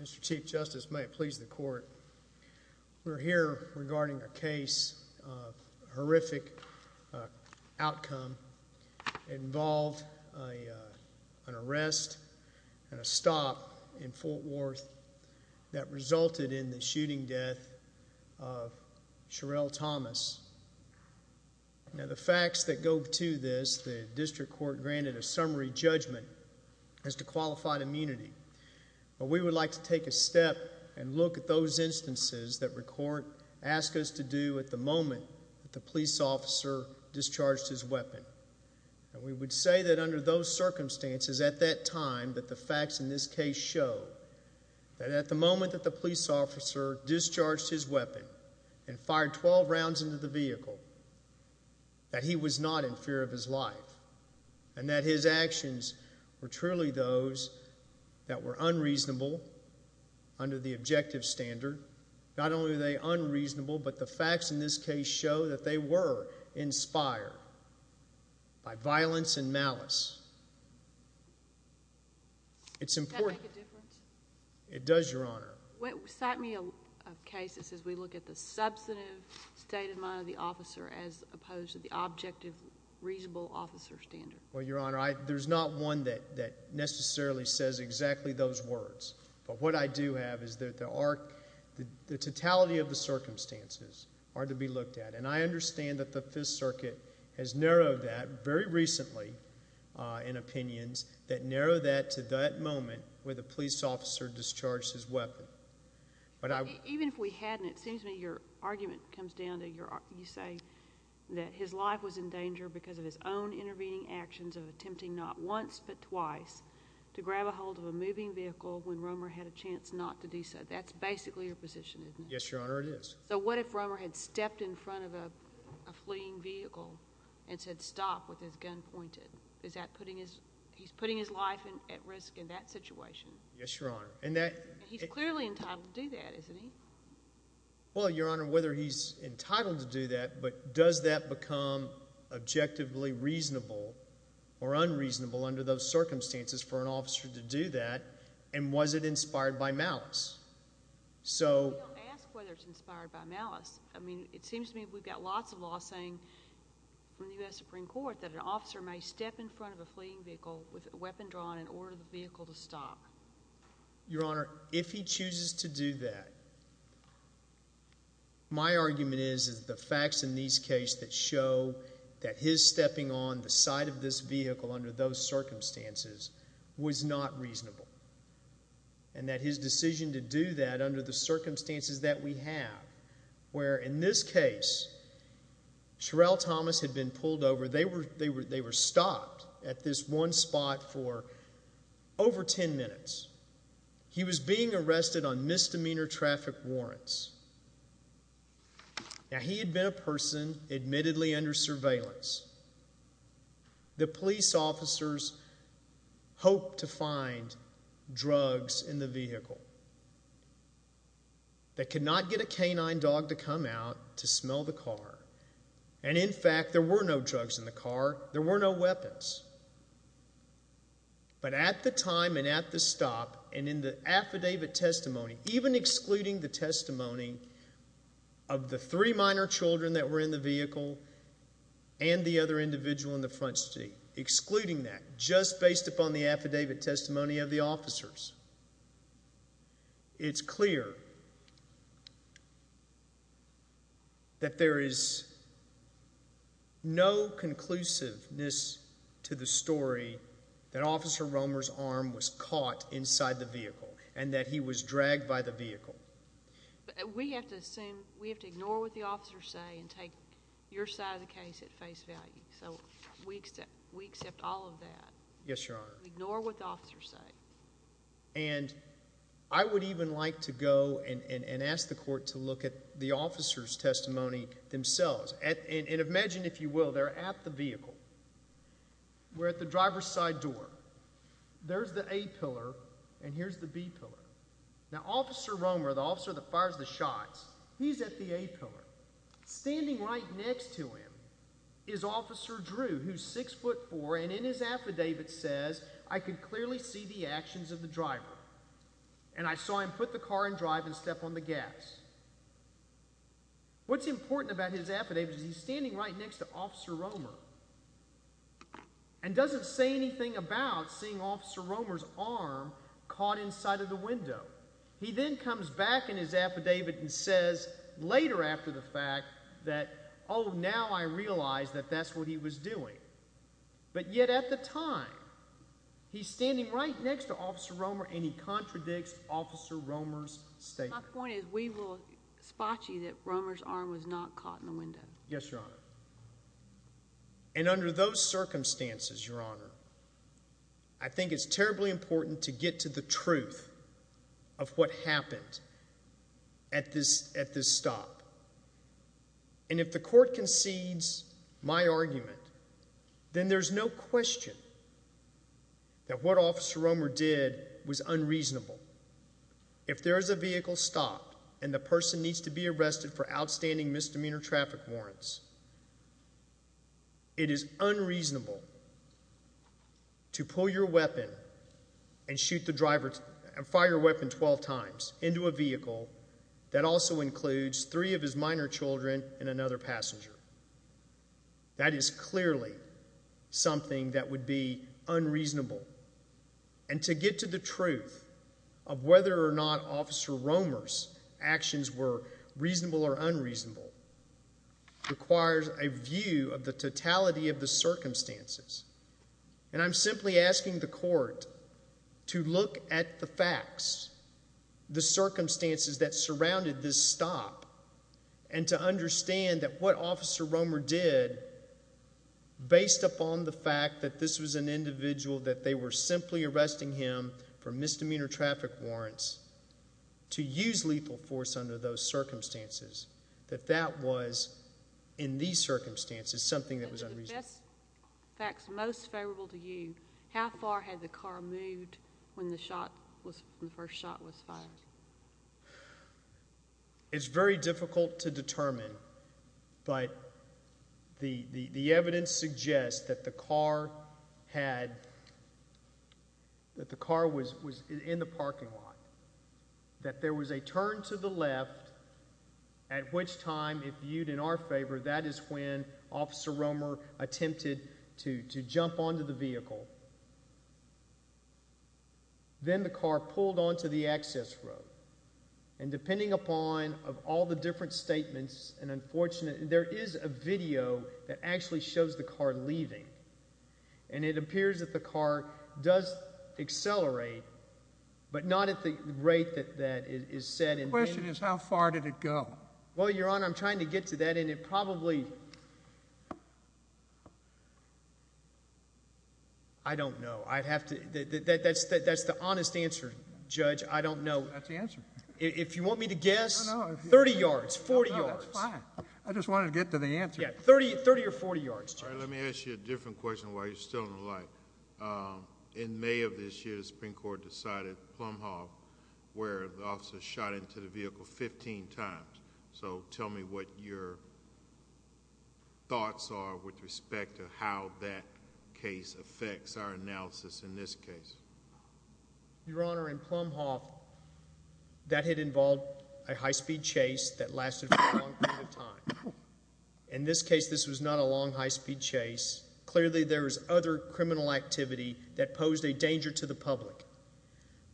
Mr. Chief Justice, may it please the court, we're here regarding a case, a horrific outcome involved an arrest and a stop in Fort Worth that resulted in the shooting death of Sherell Thomas. Now the facts that go to this, the district court granted a summary judgment as to qualified immunity. We would like to take a step and look at those instances that the court asked us to do at the moment the police officer discharged his weapon. We would say that under those circumstances at that time that the facts in this case show that at the moment that the police officer discharged his weapon and fired 12 rounds into the vehicle that he was not in fear of his life and that his actions were truly those that were unreasonable under the objective standard. Not only are they unreasonable, but the facts in this case show that they were inspired by violence and malice. It's important. It does, Your Honor. What set me up cases as we look at the substantive state of mind of the officer as opposed to the objective reasonable officer standard? Well, Your Honor, there's not one that necessarily says exactly those words, but what I do have is that the totality of the circumstances are to be looked at, and I understand that the Fifth Circuit has narrowed that very recently in opinions that narrow that to that moment where the police officer discharged his weapon. Even if we hadn't, it seems to me your argument comes down to you say that his life was in danger because of his own intervening actions of attempting not once but twice to grab a hold of a moving vehicle when Romer had a chance not to do so. That's basically your position, isn't it? Yes, Your Honor, it is. So what if Romer had stepped in front of a fleeing vehicle and said stop with his gun pointed? Is that putting his life at risk in that situation? Yes, Your Honor. He's clearly entitled to do that, isn't he? Well, Your Honor, whether he's entitled to do that, but does that become objectively reasonable or unreasonable under those circumstances for an officer to do that, and was it inspired by malice? We don't ask whether it's inspired by malice. I mean, it seems to me we've got lots of law saying in the U.S. Supreme Court that an officer may step in front of a fleeing vehicle with a weapon drawn in order for the vehicle to stop. Your Honor, if he chooses to do that, my argument is that the facts in these cases that show that his stepping on the side of this vehicle under those circumstances was not reasonable. And that his decision to do that under the circumstances that we have, where in this case, Sherell Thomas had been pulled over. They were stopped at this one spot for over ten minutes. He was being arrested on misdemeanor traffic warrants. Now, he had been a person admittedly under surveillance. The police officers hoped to find drugs in the vehicle. They could not get a canine dog to come out to smell the car. And, in fact, there were no drugs in the car. There were no weapons. But at the time and at the stop and in the affidavit testimony, even excluding the testimony of the three minor children that were in the vehicle and the other individual in the front seat, excluding that, just based upon the affidavit testimony of the officers, it's clear that there is no conclusiveness to the story that Officer Romer's arm was caught inside the vehicle and that he was dragged by the vehicle. We have to assume, we have to ignore what the officers say and take your side of the case at face value. So, we accept all of that. Yes, Your Honor. Ignore what the officers say. And I would even like to go and ask the court to look at the officers' testimony themselves. And imagine, if you will, they're at the vehicle. We're at the driver's side door. There's the A pillar and here's the B pillar. Now, Officer Romer, the officer that fires the shots, he's at the A pillar. Standing right next to him is Officer Drew, who's 6'4", and in his affidavit says, I could clearly see the actions of the driver and I saw him put the car in drive and step on the gas. What's important about his affidavit is he's standing right next to Officer Romer and doesn't say anything about seeing Officer Romer's arm caught inside of the window. He then comes back in his affidavit and says later after the fact that, oh, now I realize that that's what he was doing. But yet at the time, he's standing right next to Officer Romer and he contradicts Officer Romer's statement. My point is we will spot you that Romer's arm was not caught in the window. Yes, Your Honor. And under those circumstances, Your Honor, I think it's terribly important to get to the truth of what happened at this stop. And if the court concedes my argument, then there's no question that what Officer Romer did was unreasonable. If there is a vehicle stopped and the person needs to be arrested for outstanding misdemeanor traffic warrants, it is unreasonable to pull your weapon and fire your weapon 12 times into a vehicle that also includes three of his minor children and another passenger. That is clearly something that would be unreasonable. And to get to the truth of whether or not Officer Romer's actions were reasonable or unreasonable requires a view of the totality of the circumstances. And I'm simply asking the court to look at the facts, the circumstances that surrounded this stop, and to understand that what Officer Romer did, based upon the fact that this was an individual that they were simply arresting him for misdemeanor traffic warrants, to use lethal force under those circumstances, that that was, in these circumstances, something that was unreasonable. Of the best facts most favorable to you, how far had the car moved when the first shot was fired? It's very difficult to determine, but the evidence suggests that the car was in the parking lot, that there was a turn to the left, at which time, if viewed in our favor, that is when Officer Romer attempted to jump onto the vehicle. Then the car pulled onto the access road. And depending upon all the different statements, there is a video that actually shows the car leaving. And it appears that the car does accelerate, but not at the rate that it is said. The question is, how far did it go? Well, Your Honor, I'm trying to get to that, and it probably—I don't know. I'd have to—that's the honest answer, Judge. I don't know. That's the answer. If you want me to guess, 30 yards, 40 yards. No, no, that's fine. I just wanted to get to the answer. Yeah, 30 or 40 yards, Judge. All right, let me ask you a different question while you're still in the light. In May of this year, the Supreme Court decided Plumhoff, where the officer shot into the vehicle 15 times. So tell me what your thoughts are with respect to how that case affects our analysis in this case. Your Honor, in Plumhoff, that had involved a high-speed chase that lasted for a long period of time. In this case, this was not a long high-speed chase. Clearly, there was other criminal activity that posed a danger to the public.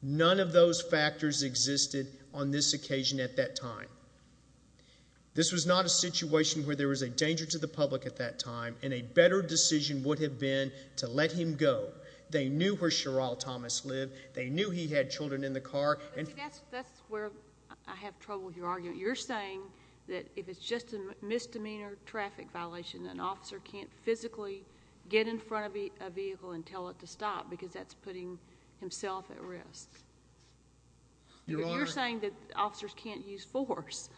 None of those factors existed on this occasion at that time. This was not a situation where there was a danger to the public at that time, and a better decision would have been to let him go. They knew where Sheryl Thomas lived. They knew he had children in the car. That's where I have trouble with your argument. You're saying that if it's just a misdemeanor traffic violation, an officer can't physically get in front of a vehicle and tell it to stop because that's putting himself at risk. Your Honor— You're saying that officers can't use force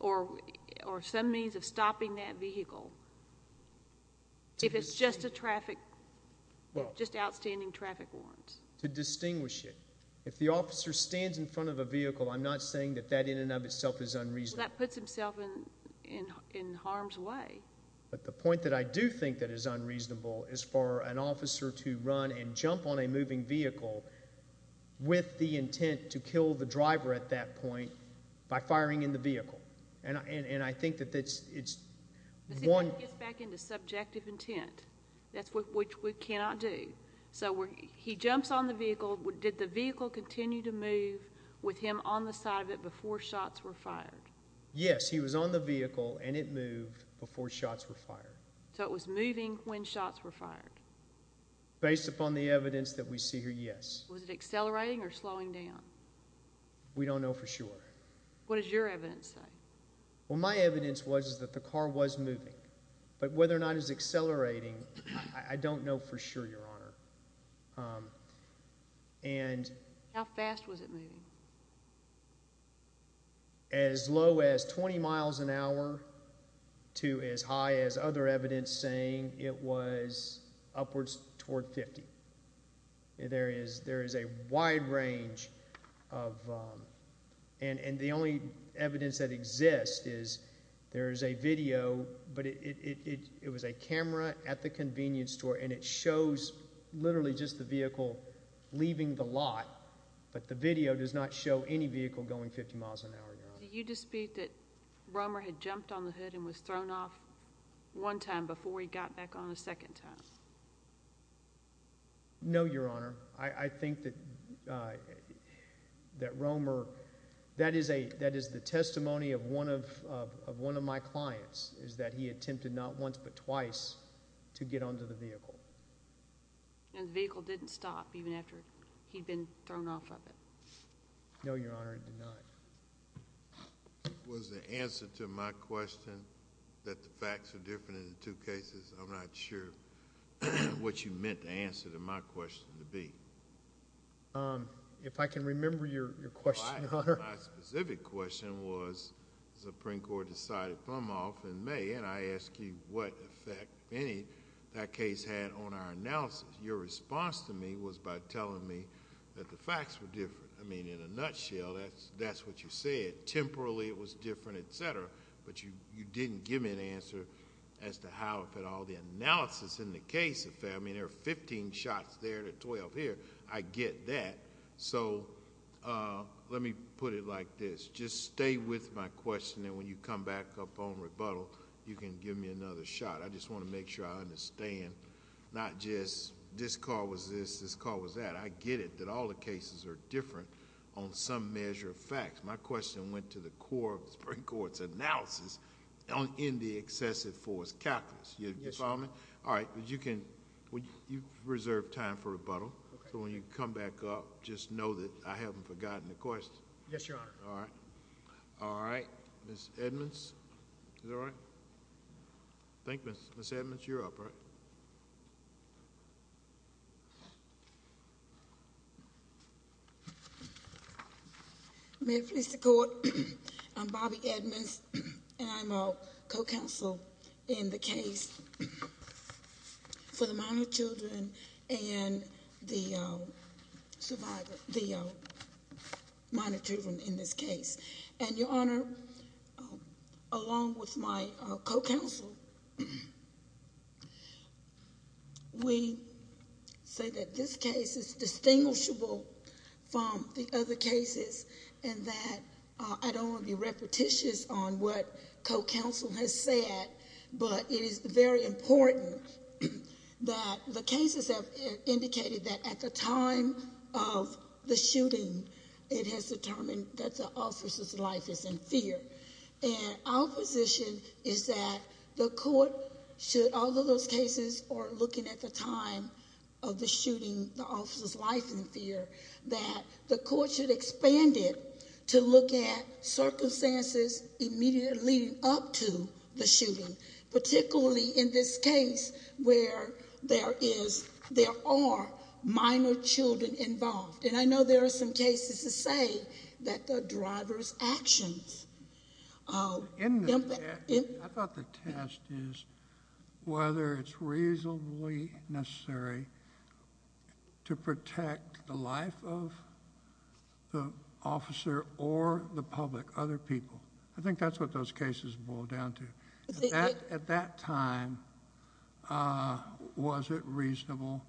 or some means of stopping that vehicle if it's just a traffic—just outstanding traffic warrants. To distinguish it. If the officer stands in front of a vehicle, I'm not saying that that in and of itself is unreasonable. Well, that puts himself in harm's way. But the point that I do think that is unreasonable is for an officer to run and jump on a moving vehicle with the intent to kill the driver at that point by firing in the vehicle. And I think that it's one— It gets back into subjective intent, which we cannot do. So he jumps on the vehicle. Did the vehicle continue to move with him on the side of it before shots were fired? Yes, he was on the vehicle, and it moved before shots were fired. So it was moving when shots were fired? Based upon the evidence that we see here, yes. Was it accelerating or slowing down? We don't know for sure. What does your evidence say? Well, my evidence was that the car was moving. But whether or not it was accelerating, I don't know for sure, Your Honor. How fast was it moving? As low as 20 miles an hour to as high as other evidence saying it was upwards toward 50. There is a wide range of— It was a camera at the convenience store, and it shows literally just the vehicle leaving the lot. But the video does not show any vehicle going 50 miles an hour, Your Honor. Do you dispute that Romer had jumped on the hood and was thrown off one time before he got back on a second time? No, Your Honor. I think that Romer— That is the testimony of one of my clients, is that he attempted not once but twice to get onto the vehicle. And the vehicle didn't stop even after he'd been thrown off of it? No, Your Honor, it did not. Was the answer to my question that the facts are different in the two cases? I'm not sure what you meant the answer to my question to be. If I can remember your question, Your Honor. My specific question was the Supreme Court decided to throw him off in May, and I asked you what effect that case had on our analysis. Your response to me was by telling me that the facts were different. In a nutshell, that's what you said. Temporally, it was different, et cetera, but you didn't give me an answer as to how, if at all, the analysis in the case... I mean, there are fifteen shots there to twelve here. I get that. Let me put it like this. Just stay with my question, and when you come back up on rebuttal, you can give me another shot. I just want to make sure I understand, not just this call was this, this call was that. I get it, that all the cases are different on some measure of facts. My question went to the core of the Supreme Court's analysis in the excessive force calculus. Do you follow me? Yes, Your Honor. All right. You've reserved time for rebuttal. When you come back up, just know that I haven't forgotten the question. Yes, Your Honor. All right. All right. Ms. Edmonds? Is that all right? I think Ms. Edmonds, you're up, right? May it please the Court, I'm Bobbi Edmonds, and I'm a co-counsel in the case for the minor children and the minor children in this case. And, Your Honor, along with my co-counsel, we say that this case is distinguishable from the other cases and that I don't want to be repetitious on what co-counsel has said, but it is very important that the cases have indicated that at the time of the shooting, it has determined that the officer's life is in fear. And our position is that the Court should, although those cases are looking at the time of the shooting, the officer's life in fear, that the Court should expand it to look at circumstances immediately up to the shooting, particularly in this case where there are minor children involved. And I know there are some cases to say that the driver's actions. I thought the test is whether it's reasonably necessary to protect the life of the officer or the public, other people. I think that's what those cases boil down to. At that time, was it reasonable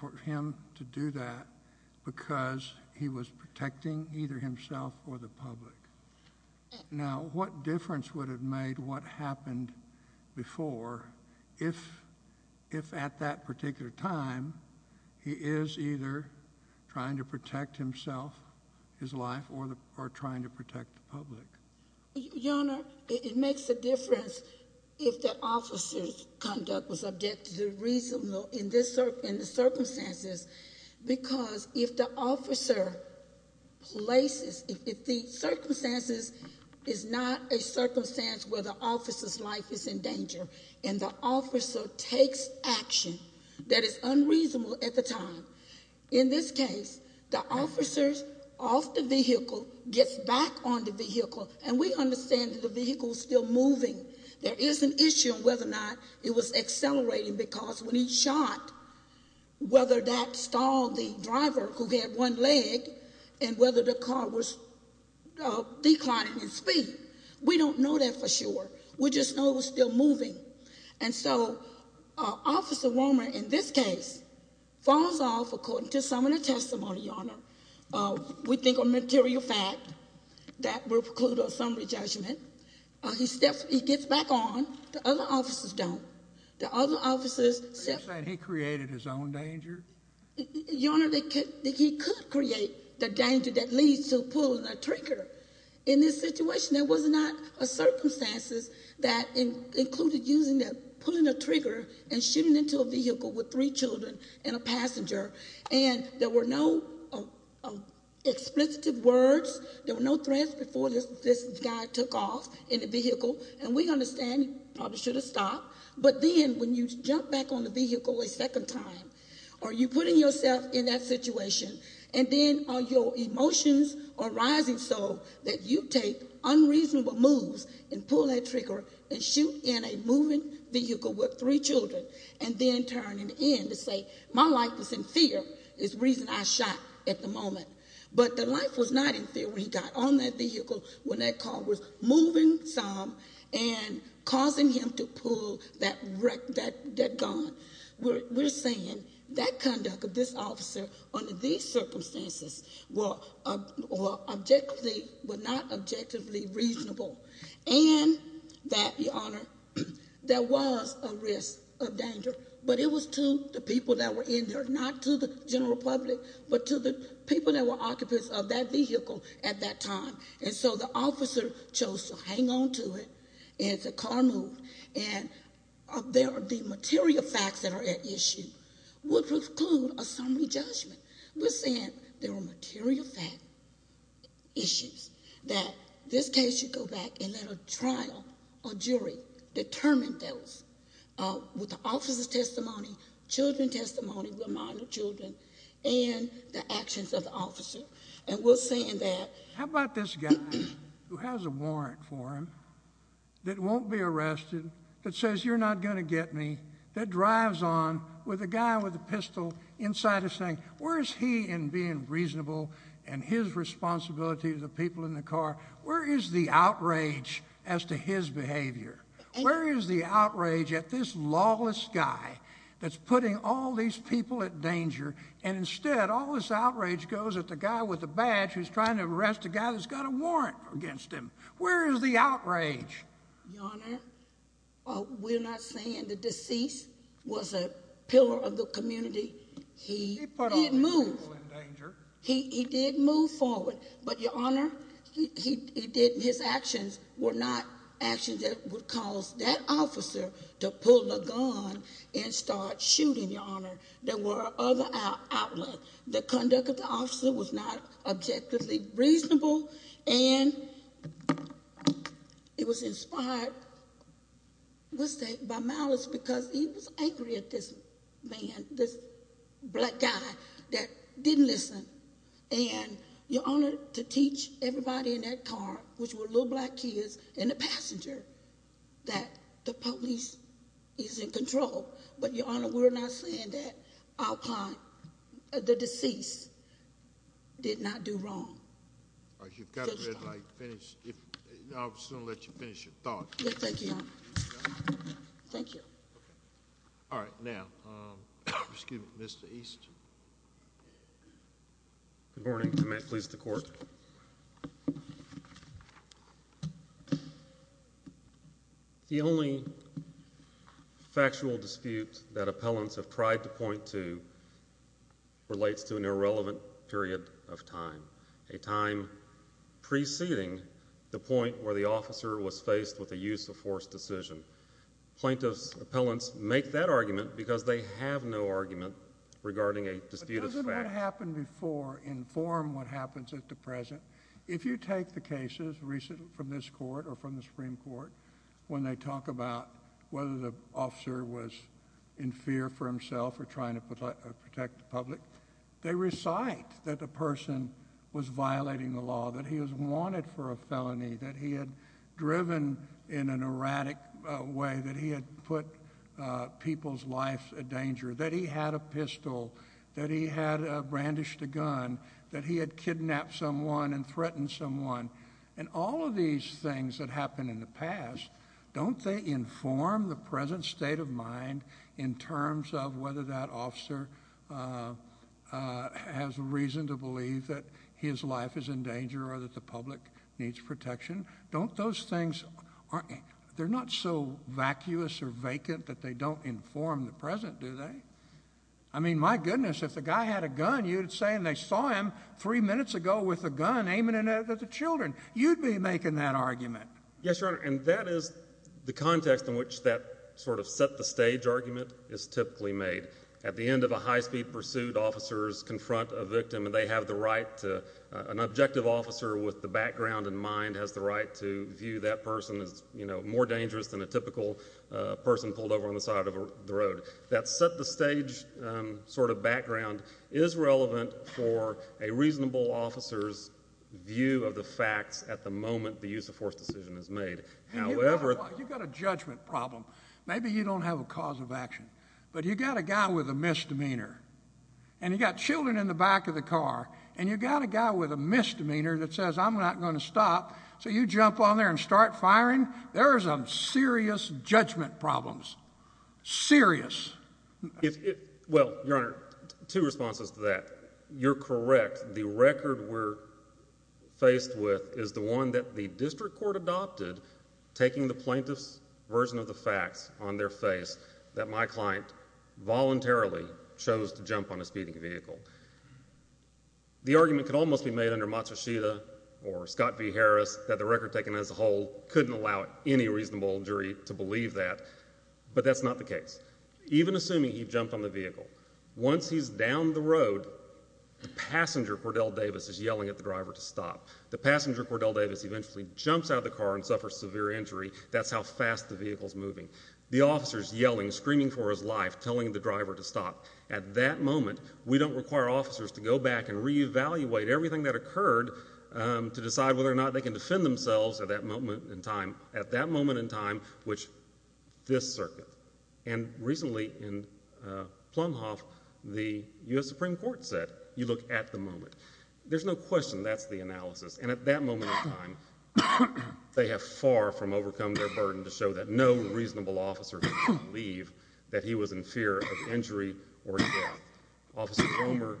for him to do that because he was protecting either himself or the public? Now, what difference would have made what happened before if at that particular time he is either trying to protect himself, his life, or trying to protect the public? Your Honor, it makes a difference if the officer's conduct was objectively reasonable in the circumstances because if the officer places, if the circumstances is not a circumstance where the officer's life is in danger and the officer takes action that is unreasonable at the time, in this case, the officer's off the vehicle, gets back on the vehicle, and we understand that the vehicle's still moving. There is an issue on whether or not it was accelerating because when he shot, whether that stalled the driver who had one leg and whether the car was declining in speed. We don't know that for sure. We just know it was still moving. And so Officer Warmer, in this case, falls off according to some of the testimony, Your Honor. We think a material fact that will preclude a summary judgment. He gets back on. The other officers don't. The other officers said he created his own danger. Your Honor, he could create the danger that leads to pulling a trigger. In this situation, there was not a circumstance that included pulling a trigger and shooting into a vehicle with three children and a passenger. And there were no explicit words. There were no threats before this guy took off in the vehicle. And we understand he probably should have stopped. But then when you jump back on the vehicle a second time, are you putting yourself in that situation? And then are your emotions arising so that you take unreasonable moves and pull that trigger and shoot in a moving vehicle with three children and then turn it in to say my life was in fear is the reason I shot at the moment. But the life was not in fear when he got on that vehicle, when that car was moving some and causing him to pull that gun. We're saying that conduct of this officer under these circumstances was not objectively reasonable. And that, Your Honor, there was a risk of danger, but it was to the people that were in there, not to the general public, but to the people that were occupants of that vehicle at that time. And so the officer chose to hang on to it, and the car moved. And there are the material facts that are at issue would preclude a summary judgment. We're saying there are material fact issues that this case should go back and let a trial or jury determine those with the officer's testimony, children's testimony with minor children, and the actions of the officer. And we're saying that. How about this guy who has a warrant for him that won't be arrested, that says you're not going to get me, that drives on with a guy with a pistol inside his thing? Where is he in being reasonable and his responsibility to the people in the car? Where is the outrage as to his behavior? Where is the outrage at this lawless guy that's putting all these people at danger, and instead all this outrage goes at the guy with the badge who's trying to arrest the guy that's got a warrant against him? Where is the outrage? Your Honor, we're not saying the deceased was a pillar of the community. He didn't move. He put all these people in danger. He did move forward. But, Your Honor, his actions were not actions that would cause that officer to pull the gun and start shooting, Your Honor. There were other outlets. The conduct of the officer was not objectively reasonable, and it was inspired by malice because he was angry at this man, this black guy that didn't listen. And, Your Honor, to teach everybody in that car, which were little black kids, and the passenger, that the police is in control. But, Your Honor, we're not saying that the deceased did not do wrong. You've got to let me finish. I'm just going to let you finish your thought. Yes, thank you, Your Honor. Thank you. All right. Now, Mr. East. Good morning. If I may please the Court. The only factual dispute that appellants have tried to point to relates to an irrelevant period of time, a time preceding the point where the officer was faced with a use of force decision. Plaintiffs' appellants make that argument because they have no argument regarding a dispute of fact. What happened before informed what happens at the present. If you take the cases recently from this Court or from the Supreme Court, when they talk about whether the officer was in fear for himself or trying to protect the public, they recite that the person was violating the law, that he was wanted for a felony, that he had driven in an erratic way, that he had a pistol, that he had brandished a gun, that he had kidnapped someone and threatened someone. And all of these things that happened in the past, don't they inform the present state of mind in terms of whether that officer has a reason to believe that his life is in danger or that the public needs protection? Don't those things, they're not so vacuous or vacant that they don't inform the present, do they? I mean, my goodness, if the guy had a gun, you'd say they saw him three minutes ago with a gun aiming at the children. You'd be making that argument. Yes, Your Honor, and that is the context in which that sort of set-the-stage argument is typically made. At the end of a high-speed pursuit, officers confront a victim and they have the right to, an objective officer with the background and mind has the right to view that person as more dangerous than a typical person pulled over on the side of the road. That set-the-stage sort of background is relevant for a reasonable officer's view of the facts at the moment the use-of-force decision is made. You've got a judgment problem. Maybe you don't have a cause of action, but you've got a guy with a misdemeanor and you've got children in the back of the car and you've got a guy with a misdemeanor that says, I'm not going to stop, so you jump on there and start firing. There are some serious judgment problems. Serious. Well, Your Honor, two responses to that. You're correct. The record we're faced with is the one that the district court adopted, taking the plaintiff's version of the facts on their face, that my client voluntarily chose to jump on a speeding vehicle. The argument could almost be made under Matsushita or Scott v. Harris that the record taken as a whole couldn't allow any reasonable jury to believe that, but that's not the case. Even assuming he jumped on the vehicle, once he's down the road, the passenger, Cordell Davis, is yelling at the driver to stop. The passenger, Cordell Davis, eventually jumps out of the car and suffers severe injury. That's how fast the vehicle's moving. The officer's yelling, screaming for his life, telling the driver to stop. At that moment, we don't require officers to go back and reevaluate everything that occurred to decide whether or not they can defend themselves at that moment in time. At that moment in time, which this circuit, and recently in Plumhoff, the U.S. Supreme Court said, you look at the moment. There's no question that's the analysis, and at that moment in time, they have far from overcome their burden to show that no reasonable officer can believe that he was in fear of injury or death. Officer Cromer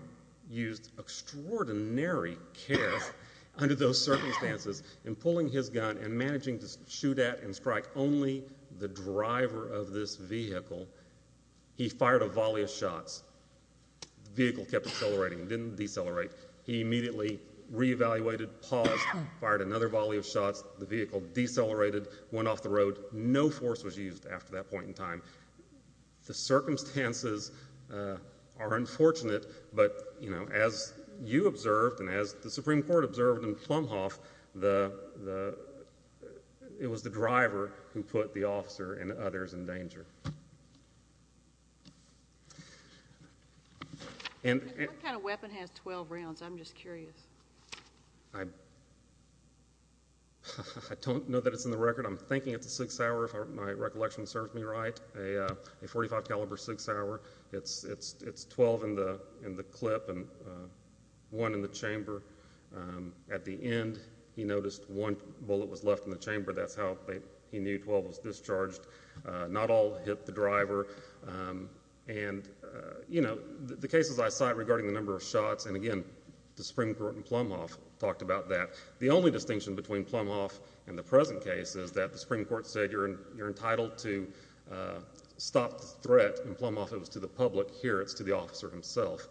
used extraordinary care under those circumstances in pulling his gun and managing to shoot at and strike only the driver of this vehicle. He fired a volley of shots. The vehicle kept accelerating. It didn't decelerate. He immediately reevaluated, paused, fired another volley of shots. The vehicle decelerated, went off the road. No force was used after that point in time. The circumstances are unfortunate, but as you observed and as the Supreme Court observed in Plumhoff, it was the driver who put the officer and others in danger. What kind of weapon has 12 rounds? I'm just curious. I don't know that it's in the record. I'm thinking it's a 6-hour, if my recollection serves me right, a .45-caliber 6-hour. It's 12 in the clip and one in the chamber. At the end, he noticed one bullet was left in the chamber. That's how he knew 12 was discharged. Not all hit the driver. The cases I cite regarding the number of shots, and again, the Supreme Court in Plumhoff talked about that. The only distinction between Plumhoff and the present case is that the Supreme Court said, you're entitled to stop the threat in Plumhoff. It was to the public. Here, it's to the officer himself.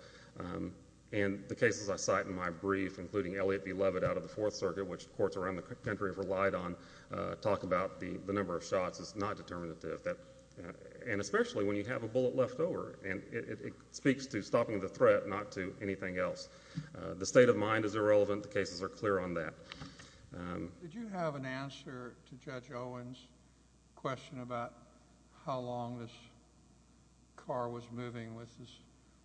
The cases I cite in my brief, including Elliott v. Levitt out of the Fourth Circuit, which courts around the country have relied on, talk about the number of shots is not determinative, and especially when you have a bullet left over. It speaks to stopping the threat, not to anything else. The state of mind is irrelevant. The cases are clear on that. Did you have an answer to Judge Owens' question about how long this car was moving with this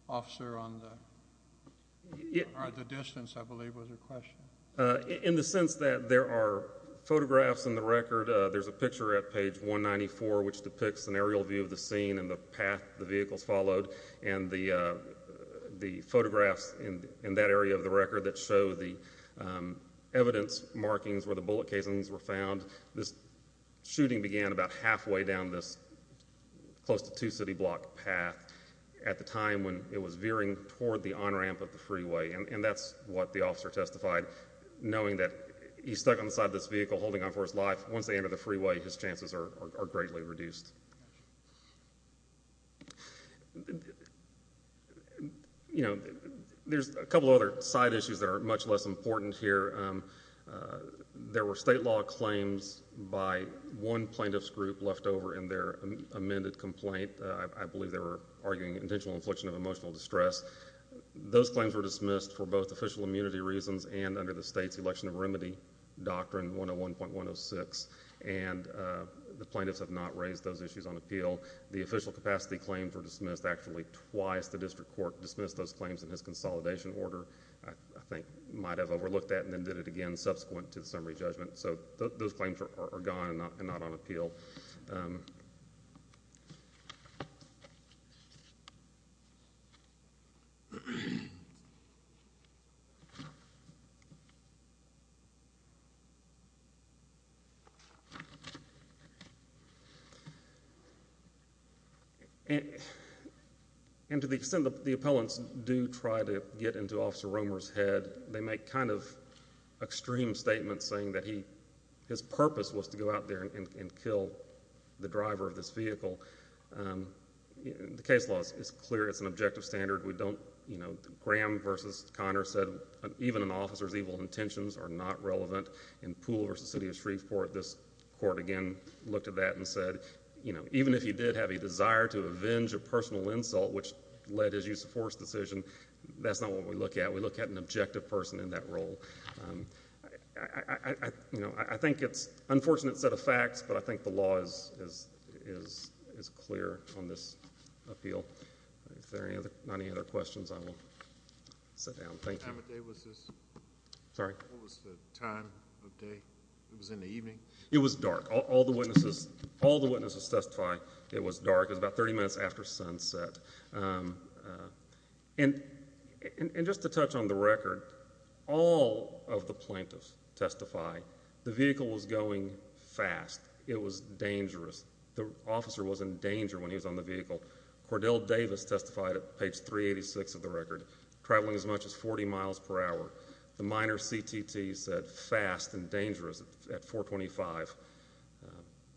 officer on the... or the distance, I believe, was her question. In the sense that there are photographs in the record. There's a picture at page 194, which depicts an aerial view of the scene and the path the vehicles followed, and the photographs in that area of the record that show the evidence markings where the bullet casings were found, this shooting began about halfway down this close to two-city block path at the time when it was veering toward the on-ramp of the freeway. And that's what the officer testified, knowing that he's stuck on the side of this vehicle holding on for his life. Once they enter the freeway, his chances are greatly reduced. You know, there's a couple of other side issues that are much less important here. There were state law claims by one plaintiff's group left over in their amended complaint. I believe they were arguing intentional infliction of emotional distress. Those claims were dismissed for both official immunity reasons and under the state's Election of Remedy Doctrine 101.106, and the plaintiffs have not raised those issues. The official capacity claims were dismissed actually twice. The district court dismissed those claims in his consolidation order, I think might have overlooked that, and then did it again subsequent to the summary judgment. So those claims are gone and not on appeal. And to the extent that the appellants do try to get into Officer Romer's head, they make kind of extreme statements saying that his purpose was to go out there and kill the driver of this vehicle. The case law is clear. It's an objective standard. We don't, you know, Graham v. Conner said even an officer's evil intentions are not relevant. In Poole v. City of Shreveport, this court again looked at that and said, you know, even if he did have a desire to avenge a personal insult which led his use of force decision, that's not what we look at. We look at an objective person in that role. I think it's an unfortunate set of facts, but I think the law is clear on this appeal. If there are not any other questions, I will sit down. Thank you. What time of day was this? Sorry? What was the time of day? It was in the evening? It was dark. All the witnesses testify it was dark. It was about 30 minutes after sunset. And just to touch on the record, all of the plaintiffs testify the vehicle was going fast. It was dangerous. The officer was in danger when he was on the vehicle. Cordell Davis testified at page 386 of the record, traveling as much as 40 miles per hour. The minor CTT said fast and dangerous at 425.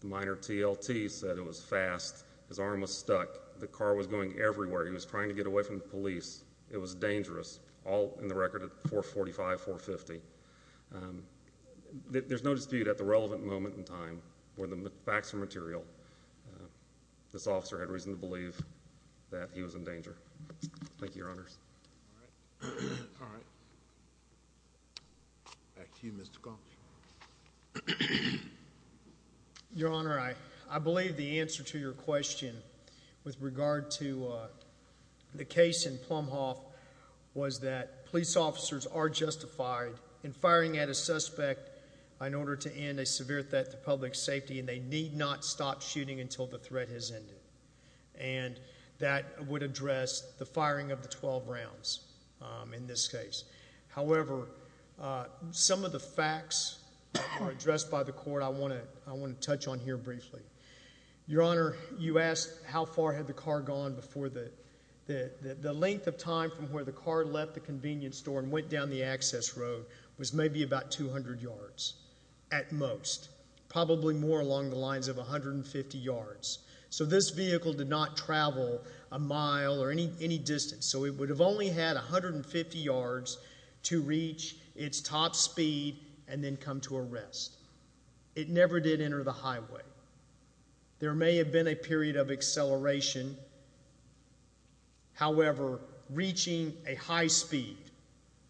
The minor TLT said it was fast. His arm was stuck. The car was going everywhere. He was trying to get away from the police. It was dangerous, all in the record at 445, 450. There's no dispute at the relevant moment in time where the facts are material, Thank you, Your Honors. All right. Back to you, Mr. Combs. Your Honor, I believe the answer to your question with regard to the case in Plumhoff was that police officers are justified in firing at a suspect in order to end a severe threat to public safety, and they need not stop shooting until the threat has ended. And that would address the firing of the 12 rounds in this case. However, some of the facts addressed by the court I want to touch on here briefly. Your Honor, you asked how far had the car gone before the length of time from where the car left the convenience store and went down the access road was maybe about 200 yards at most, probably more along the lines of 150 yards. So this vehicle did not travel a mile or any distance. So it would have only had 150 yards to reach its top speed and then come to a rest. It never did enter the highway. There may have been a period of acceleration. However, reaching a high speed,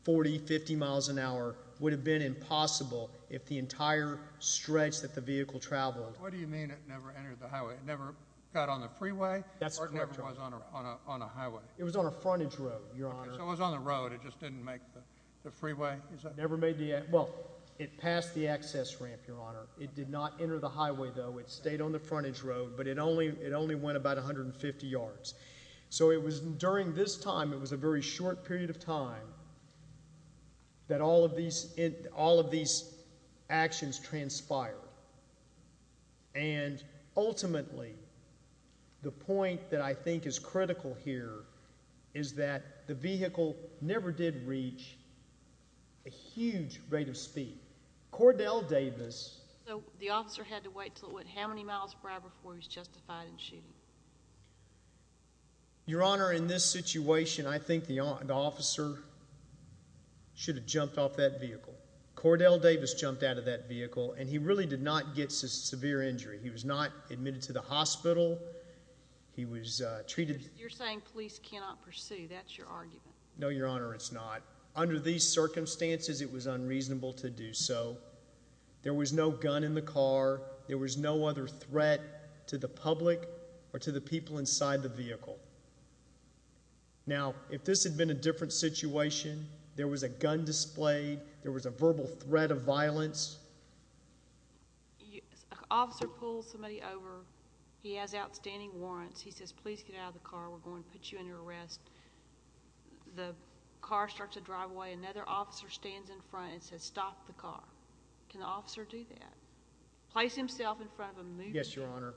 40, 50 miles an hour, would have been impossible if the entire stretch that the vehicle traveled... The car never got on the freeway? The car never was on a highway? It was on a frontage road, Your Honor. So it was on the road, it just didn't make the freeway? Well, it passed the access ramp, Your Honor. It did not enter the highway, though. It stayed on the frontage road, but it only went about 150 yards. So during this time, it was a very short period of time that all of these actions transpired. And ultimately, the point that I think is critical here is that the vehicle never did reach a huge rate of speed. Cordell Davis... So the officer had to wait till, what, how many miles prior before he was justified in shooting? Your Honor, in this situation, I think the officer should have jumped off that vehicle. Cordell Davis jumped out of that vehicle, and he really did not get severe injury. He was not admitted to the hospital. He was treated... You're saying police cannot pursue. That's your argument. No, Your Honor, it's not. Under these circumstances, it was unreasonable to do so. There was no gun in the car. There was no other threat to the public or to the people inside the vehicle. Now, if this had been a different situation, there was a gun displayed, there was a verbal threat of violence, A officer pulls somebody over. He has outstanding warrants. He says, Please get out of the car. We're going to put you under arrest. The car starts to drive away. Another officer stands in front and says, Stop the car. Can the officer do that? Place himself in front of a moving vehicle. Yes, Your Honor.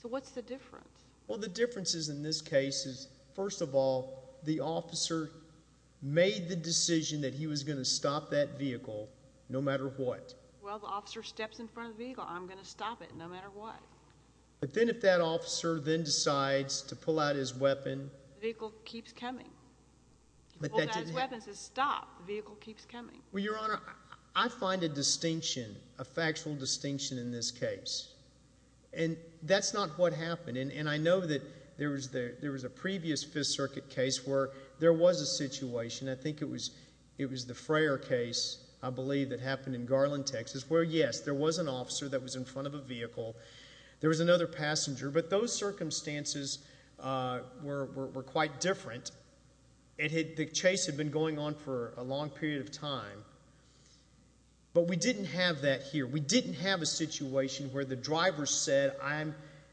So what's the difference? Well, the differences in this case is, first of all, the officer made the decision that he was going to stop that vehicle no matter what. Well, the officer steps in front of the vehicle. I'm going to stop it no matter what. But then if that officer then decides to pull out his weapon... The vehicle keeps coming. He pulls out his weapon and says, Stop. The vehicle keeps coming. Well, Your Honor, I find a distinction, a factual distinction in this case. And that's not what happened. And I know that there was a previous Fifth Circuit case where there was a situation. I think it was the Frayer case, I believe, that happened in Garland, Texas, where, yes, there was an officer that was in front of a vehicle. There was another passenger. But those circumstances were quite different. The chase had been going on for a long period of time. But we didn't have that here. We didn't have a situation where the driver said,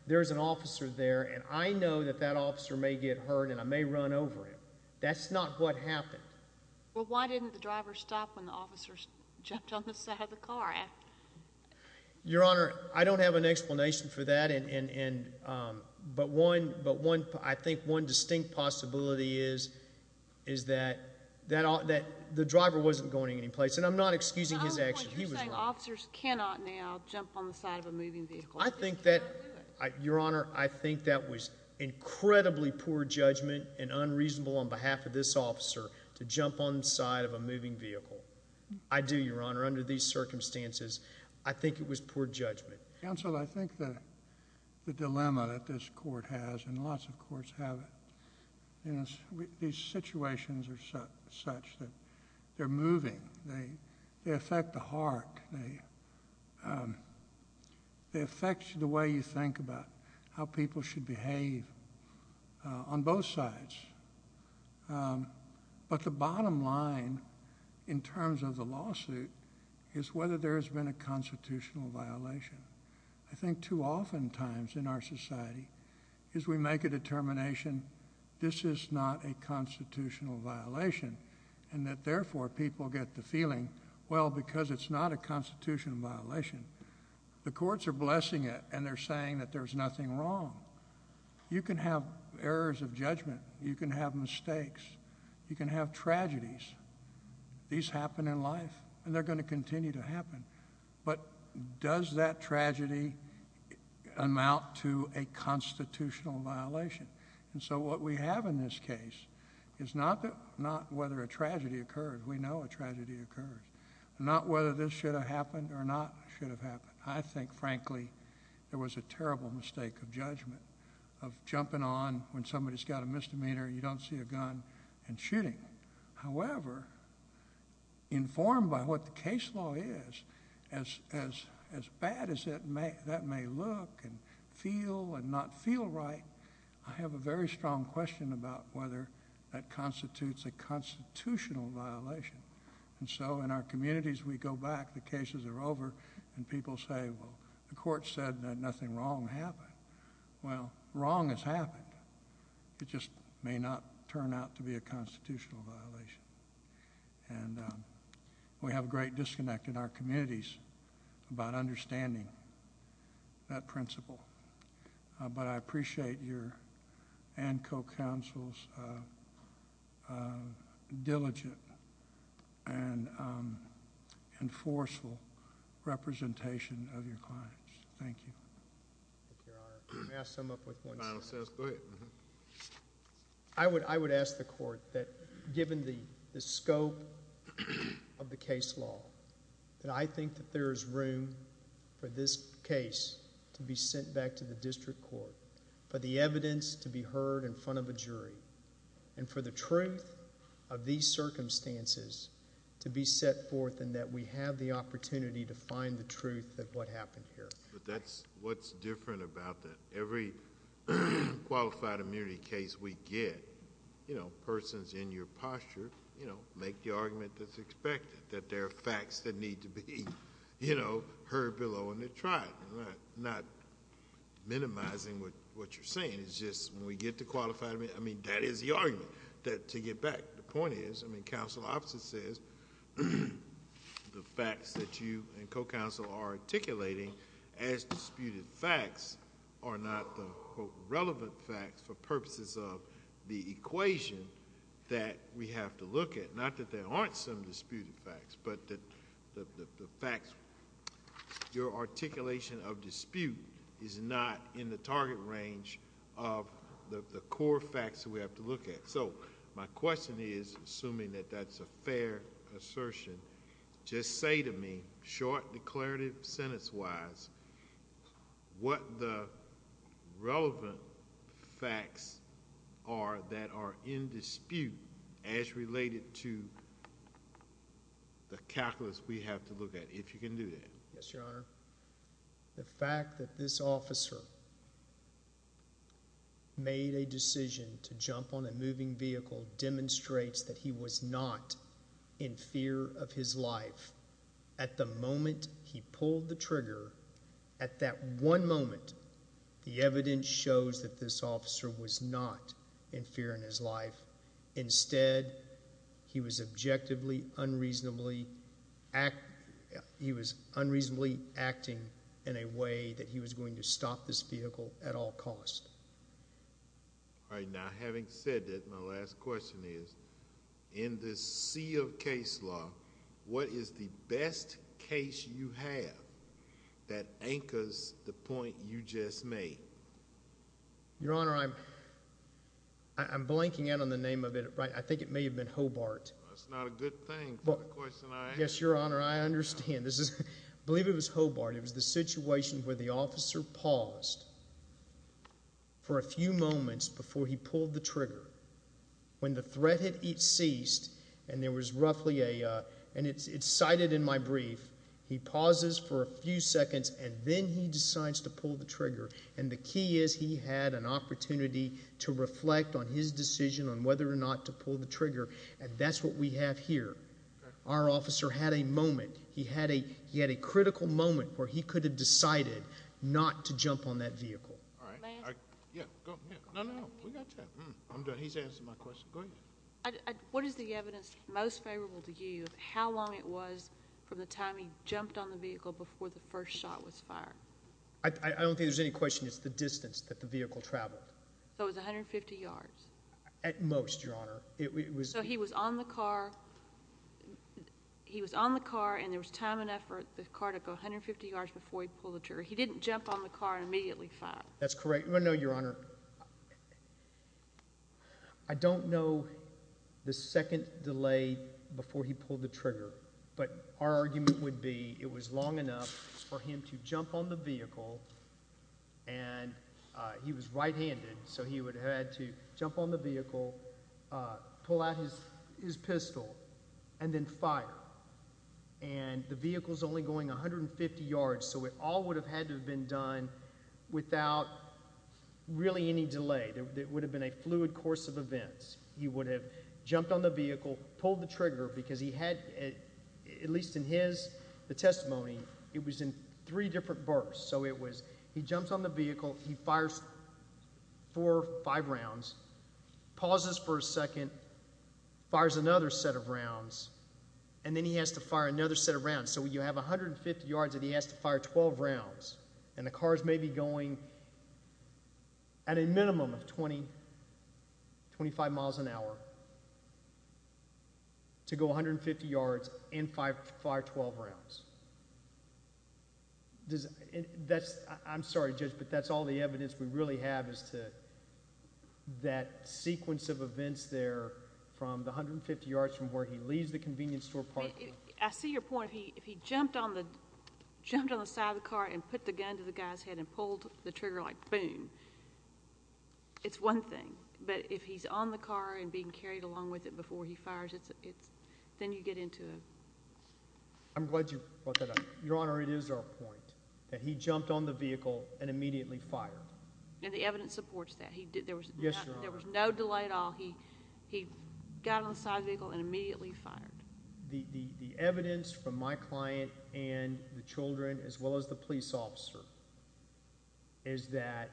There's an officer there, and I know that that officer may get hurt and I may run over him. That's not what happened. Well, why didn't the driver stop when the officer jumped on the side of the car? Your Honor, I don't have an explanation for that. But I think one distinct possibility is that the driver wasn't going anyplace. And I'm not excusing his action. Officers cannot now jump on the side of a moving vehicle. I think that, Your Honor, I think that was incredibly poor judgment and unreasonable on behalf of this officer to jump on the side of a moving vehicle. I do, Your Honor, under these circumstances, I think it was poor judgment. Counsel, I think that the dilemma that this court has, and lots of courts have it, is these situations are such that they're moving. They affect the heart. They affect the way you think about how people should behave on both sides. But the bottom line in terms of the lawsuit is whether there has been a constitutional violation. I think too often times in our society is we make a determination, this is not a constitutional violation, and that therefore people get the feeling, well, because it's not a constitutional violation, the courts are blessing it and they're saying that there's nothing wrong. You can have errors of judgment. You can have mistakes. You can have tragedies. These happen in life, and they're going to continue to happen. But does that tragedy amount to a constitutional violation? And so what we have in this case is not whether a tragedy occurred. We know a tragedy occurs. Not whether this should have happened or not should have happened. I think, frankly, there was a terrible mistake of judgment, of jumping on when somebody's got a misdemeanor and you don't see a gun and shooting. However, informed by what the case law is, as bad as that may look and feel and not feel right, I have a very strong question about whether that constitutes a constitutional violation. And so in our communities, we go back, the cases are over, and people say, well, the court said that nothing wrong happened. Well, wrong has happened. It just may not turn out to be a constitutional violation. And we have a great disconnect in our communities about understanding that principle. But I appreciate your and co-counsel's diligent and forceful representation of your clients. Thank you. Thank you, Your Honor. May I sum up with one sentence? Go ahead. I would ask the court that given the scope of the case law, that I think that there is room for this case to be sent back to the district court, for the evidence to be heard in front of a jury, and for the truth of these circumstances to be set forth in that we have the opportunity to find the truth of what happened here. But that's what's different about that. Every qualified immunity case we get, persons in your posture make the argument that's expected, that there are facts that need to be heard below and they're tried. I'm not minimizing what you're saying. It's just when we get to qualified immunity, that is the argument to get back. The point is, I mean, counsel's office says the facts that you and co-counsel are articulating as disputed facts are not the relevant facts for purposes of the equation that we have to look at. Not that there aren't some disputed facts, but that the facts, your articulation of dispute, is not in the target range of the core facts that we have to look at. So my question is, assuming that that's a fair assertion, just say to me, short, declarative, sentence-wise, what the relevant facts are that are in dispute as related to the calculus we have to look at, if you can do that. Yes, Your Honor. The fact that this officer made a decision to jump on a moving vehicle demonstrates that he was not in fear of his life. At the moment he pulled the trigger, at that one moment, the evidence shows that this officer was not in fear in his life. Instead, he was objectively, unreasonably acting in a way that he was going to stop this vehicle at all costs. All right, now having said that, my last question is, in this sea of case law, what is the best case you have that anchors the point you just made? Your Honor, I'm blanking out on the name of it. I think it may have been Hobart. That's not a good thing for the question I asked. Yes, Your Honor, I understand. I believe it was Hobart. It was the situation where the officer paused for a few moments before he pulled the trigger. When the threat had ceased, and it's cited in my brief, he pauses for a few seconds, and then he decides to pull the trigger, and the key is he had an opportunity to reflect on his decision on whether or not to pull the trigger, and that's what we have here. Our officer had a moment. He had a critical moment where he could have decided not to jump on that vehicle. All right. Go ahead. No, no, we got you. I'm done. He's answered my question. Go ahead. What is the evidence most favorable to you of how long it was from the time he jumped on the vehicle before the first shot was fired? I don't think there's any question. It's the distance that the vehicle traveled. So it was 150 yards? At most, Your Honor. So he was on the car, and there was time and effort for the car to go 150 yards before he pulled the trigger. He didn't jump on the car and immediately fire. That's correct. before he pulled the trigger, but our argument would be it was long enough for him to jump on the vehicle, and he was right-handed, so he would have had to jump on the vehicle, pull out his pistol, and then fire. And the vehicle's only going 150 yards, so it all would have had to have been done without really any delay. It would have been a fluid course of events. He would have jumped on the vehicle, pulled the trigger because he had, at least in his testimony, it was in three different bursts. So he jumps on the vehicle, he fires four or five rounds, pauses for a second, fires another set of rounds, and then he has to fire another set of rounds. So you have 150 yards, and he has to fire 12 rounds, and the car's maybe going at a minimum of 20, 25 miles an hour to go 150 yards and fire 12 rounds. I'm sorry, Judge, but that's all the evidence we really have is that sequence of events there from the 150 yards from where he leaves the convenience store parking lot. I see your point. If he jumped on the side of the car and put the gun to the guy's head and pulled the trigger like boom, it's one thing. But if he's on the car and being carried along with it before he fires, then you get into a... I'm glad you brought that up. Your Honor, it is our point that he jumped on the vehicle and immediately fired. And the evidence supports that. Yes, Your Honor. There was no delay at all. He got on the side of the vehicle and immediately fired. The evidence from my client and the children as well as the police officer is that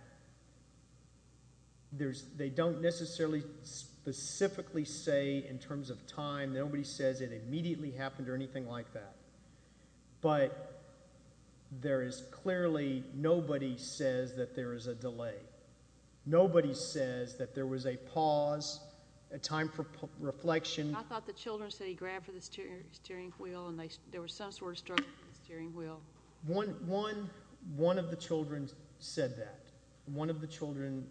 they don't necessarily specifically say in terms of time. Nobody says it immediately happened or anything like that. But there is clearly nobody says that there is a delay. Nobody says that there was a pause, a time for reflection. I thought the children said he grabbed for the steering wheel and there was some sort of struggle for the steering wheel. One of the children said that. One of the children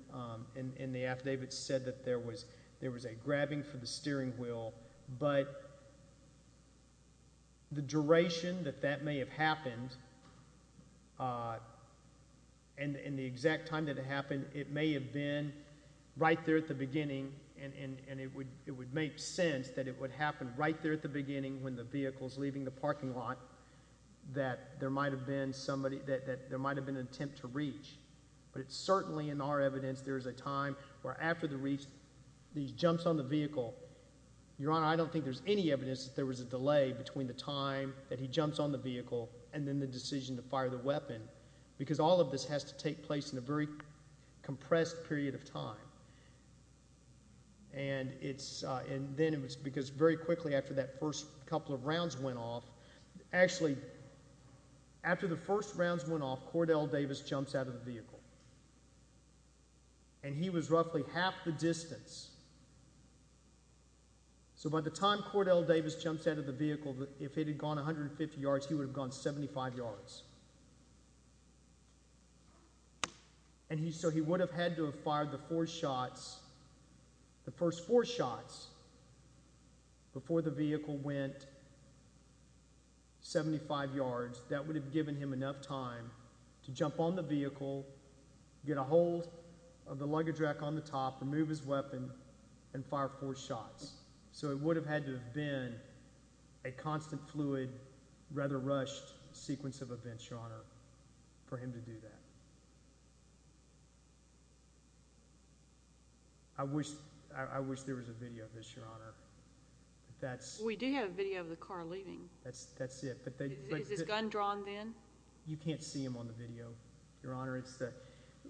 in the affidavit said that there was a grabbing for the steering wheel. But the duration that that may have happened and the exact time that it happened, it may have been right there at the beginning and it would make sense that it would happen right there at the beginning when the vehicle is leaving the parking lot that there might have been an attempt to reach. But certainly in our evidence there is a time where after he jumps on the vehicle, Your Honor, I don't think there is any evidence that there was a delay between the time that he jumps on the vehicle and then the decision to fire the weapon because all of this has to take place in a very compressed period of time. And then it was because very quickly after that first couple of rounds went off, actually, after the first rounds went off, Cordell Davis jumps out of the vehicle. And he was roughly half the distance. So by the time Cordell Davis jumps out of the vehicle, if it had gone 150 yards, he would have gone 75 yards. And so he would have had to have fired the first four shots before the vehicle went 75 yards. That would have given him enough time to jump on the vehicle, get a hold of the luggage rack on the top, remove his weapon, and fire four shots. So it would have had to have been a constant, fluid, rather rushed sequence of events, Your Honor, for him to do that. I wish there was a video of this, Your Honor. We do have a video of the car leaving. That's it. Is his gun drawn then? You can't see him on the video, Your Honor. It's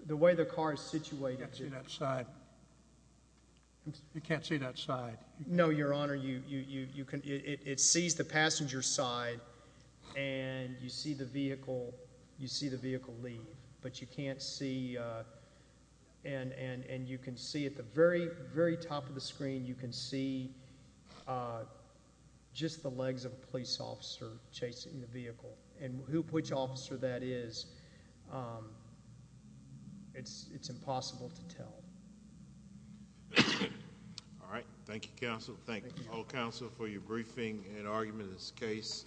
the way the car is situated. I can't see that side. You can't see that side. No, Your Honor. It sees the passenger side, and you see the vehicle leave. But you can't see. And you can see at the very, very top of the screen, you can see just the legs of a police officer chasing the vehicle. And which officer that is, it's impossible to tell. All right. Thank you, counsel. Thank all counsel for your briefing and argument in this case.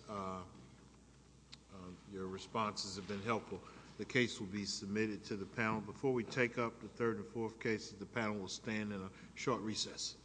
Your responses have been helpful. The case will be submitted to the panel. Before we take up the third and fourth cases, the panel will stand in a short recess.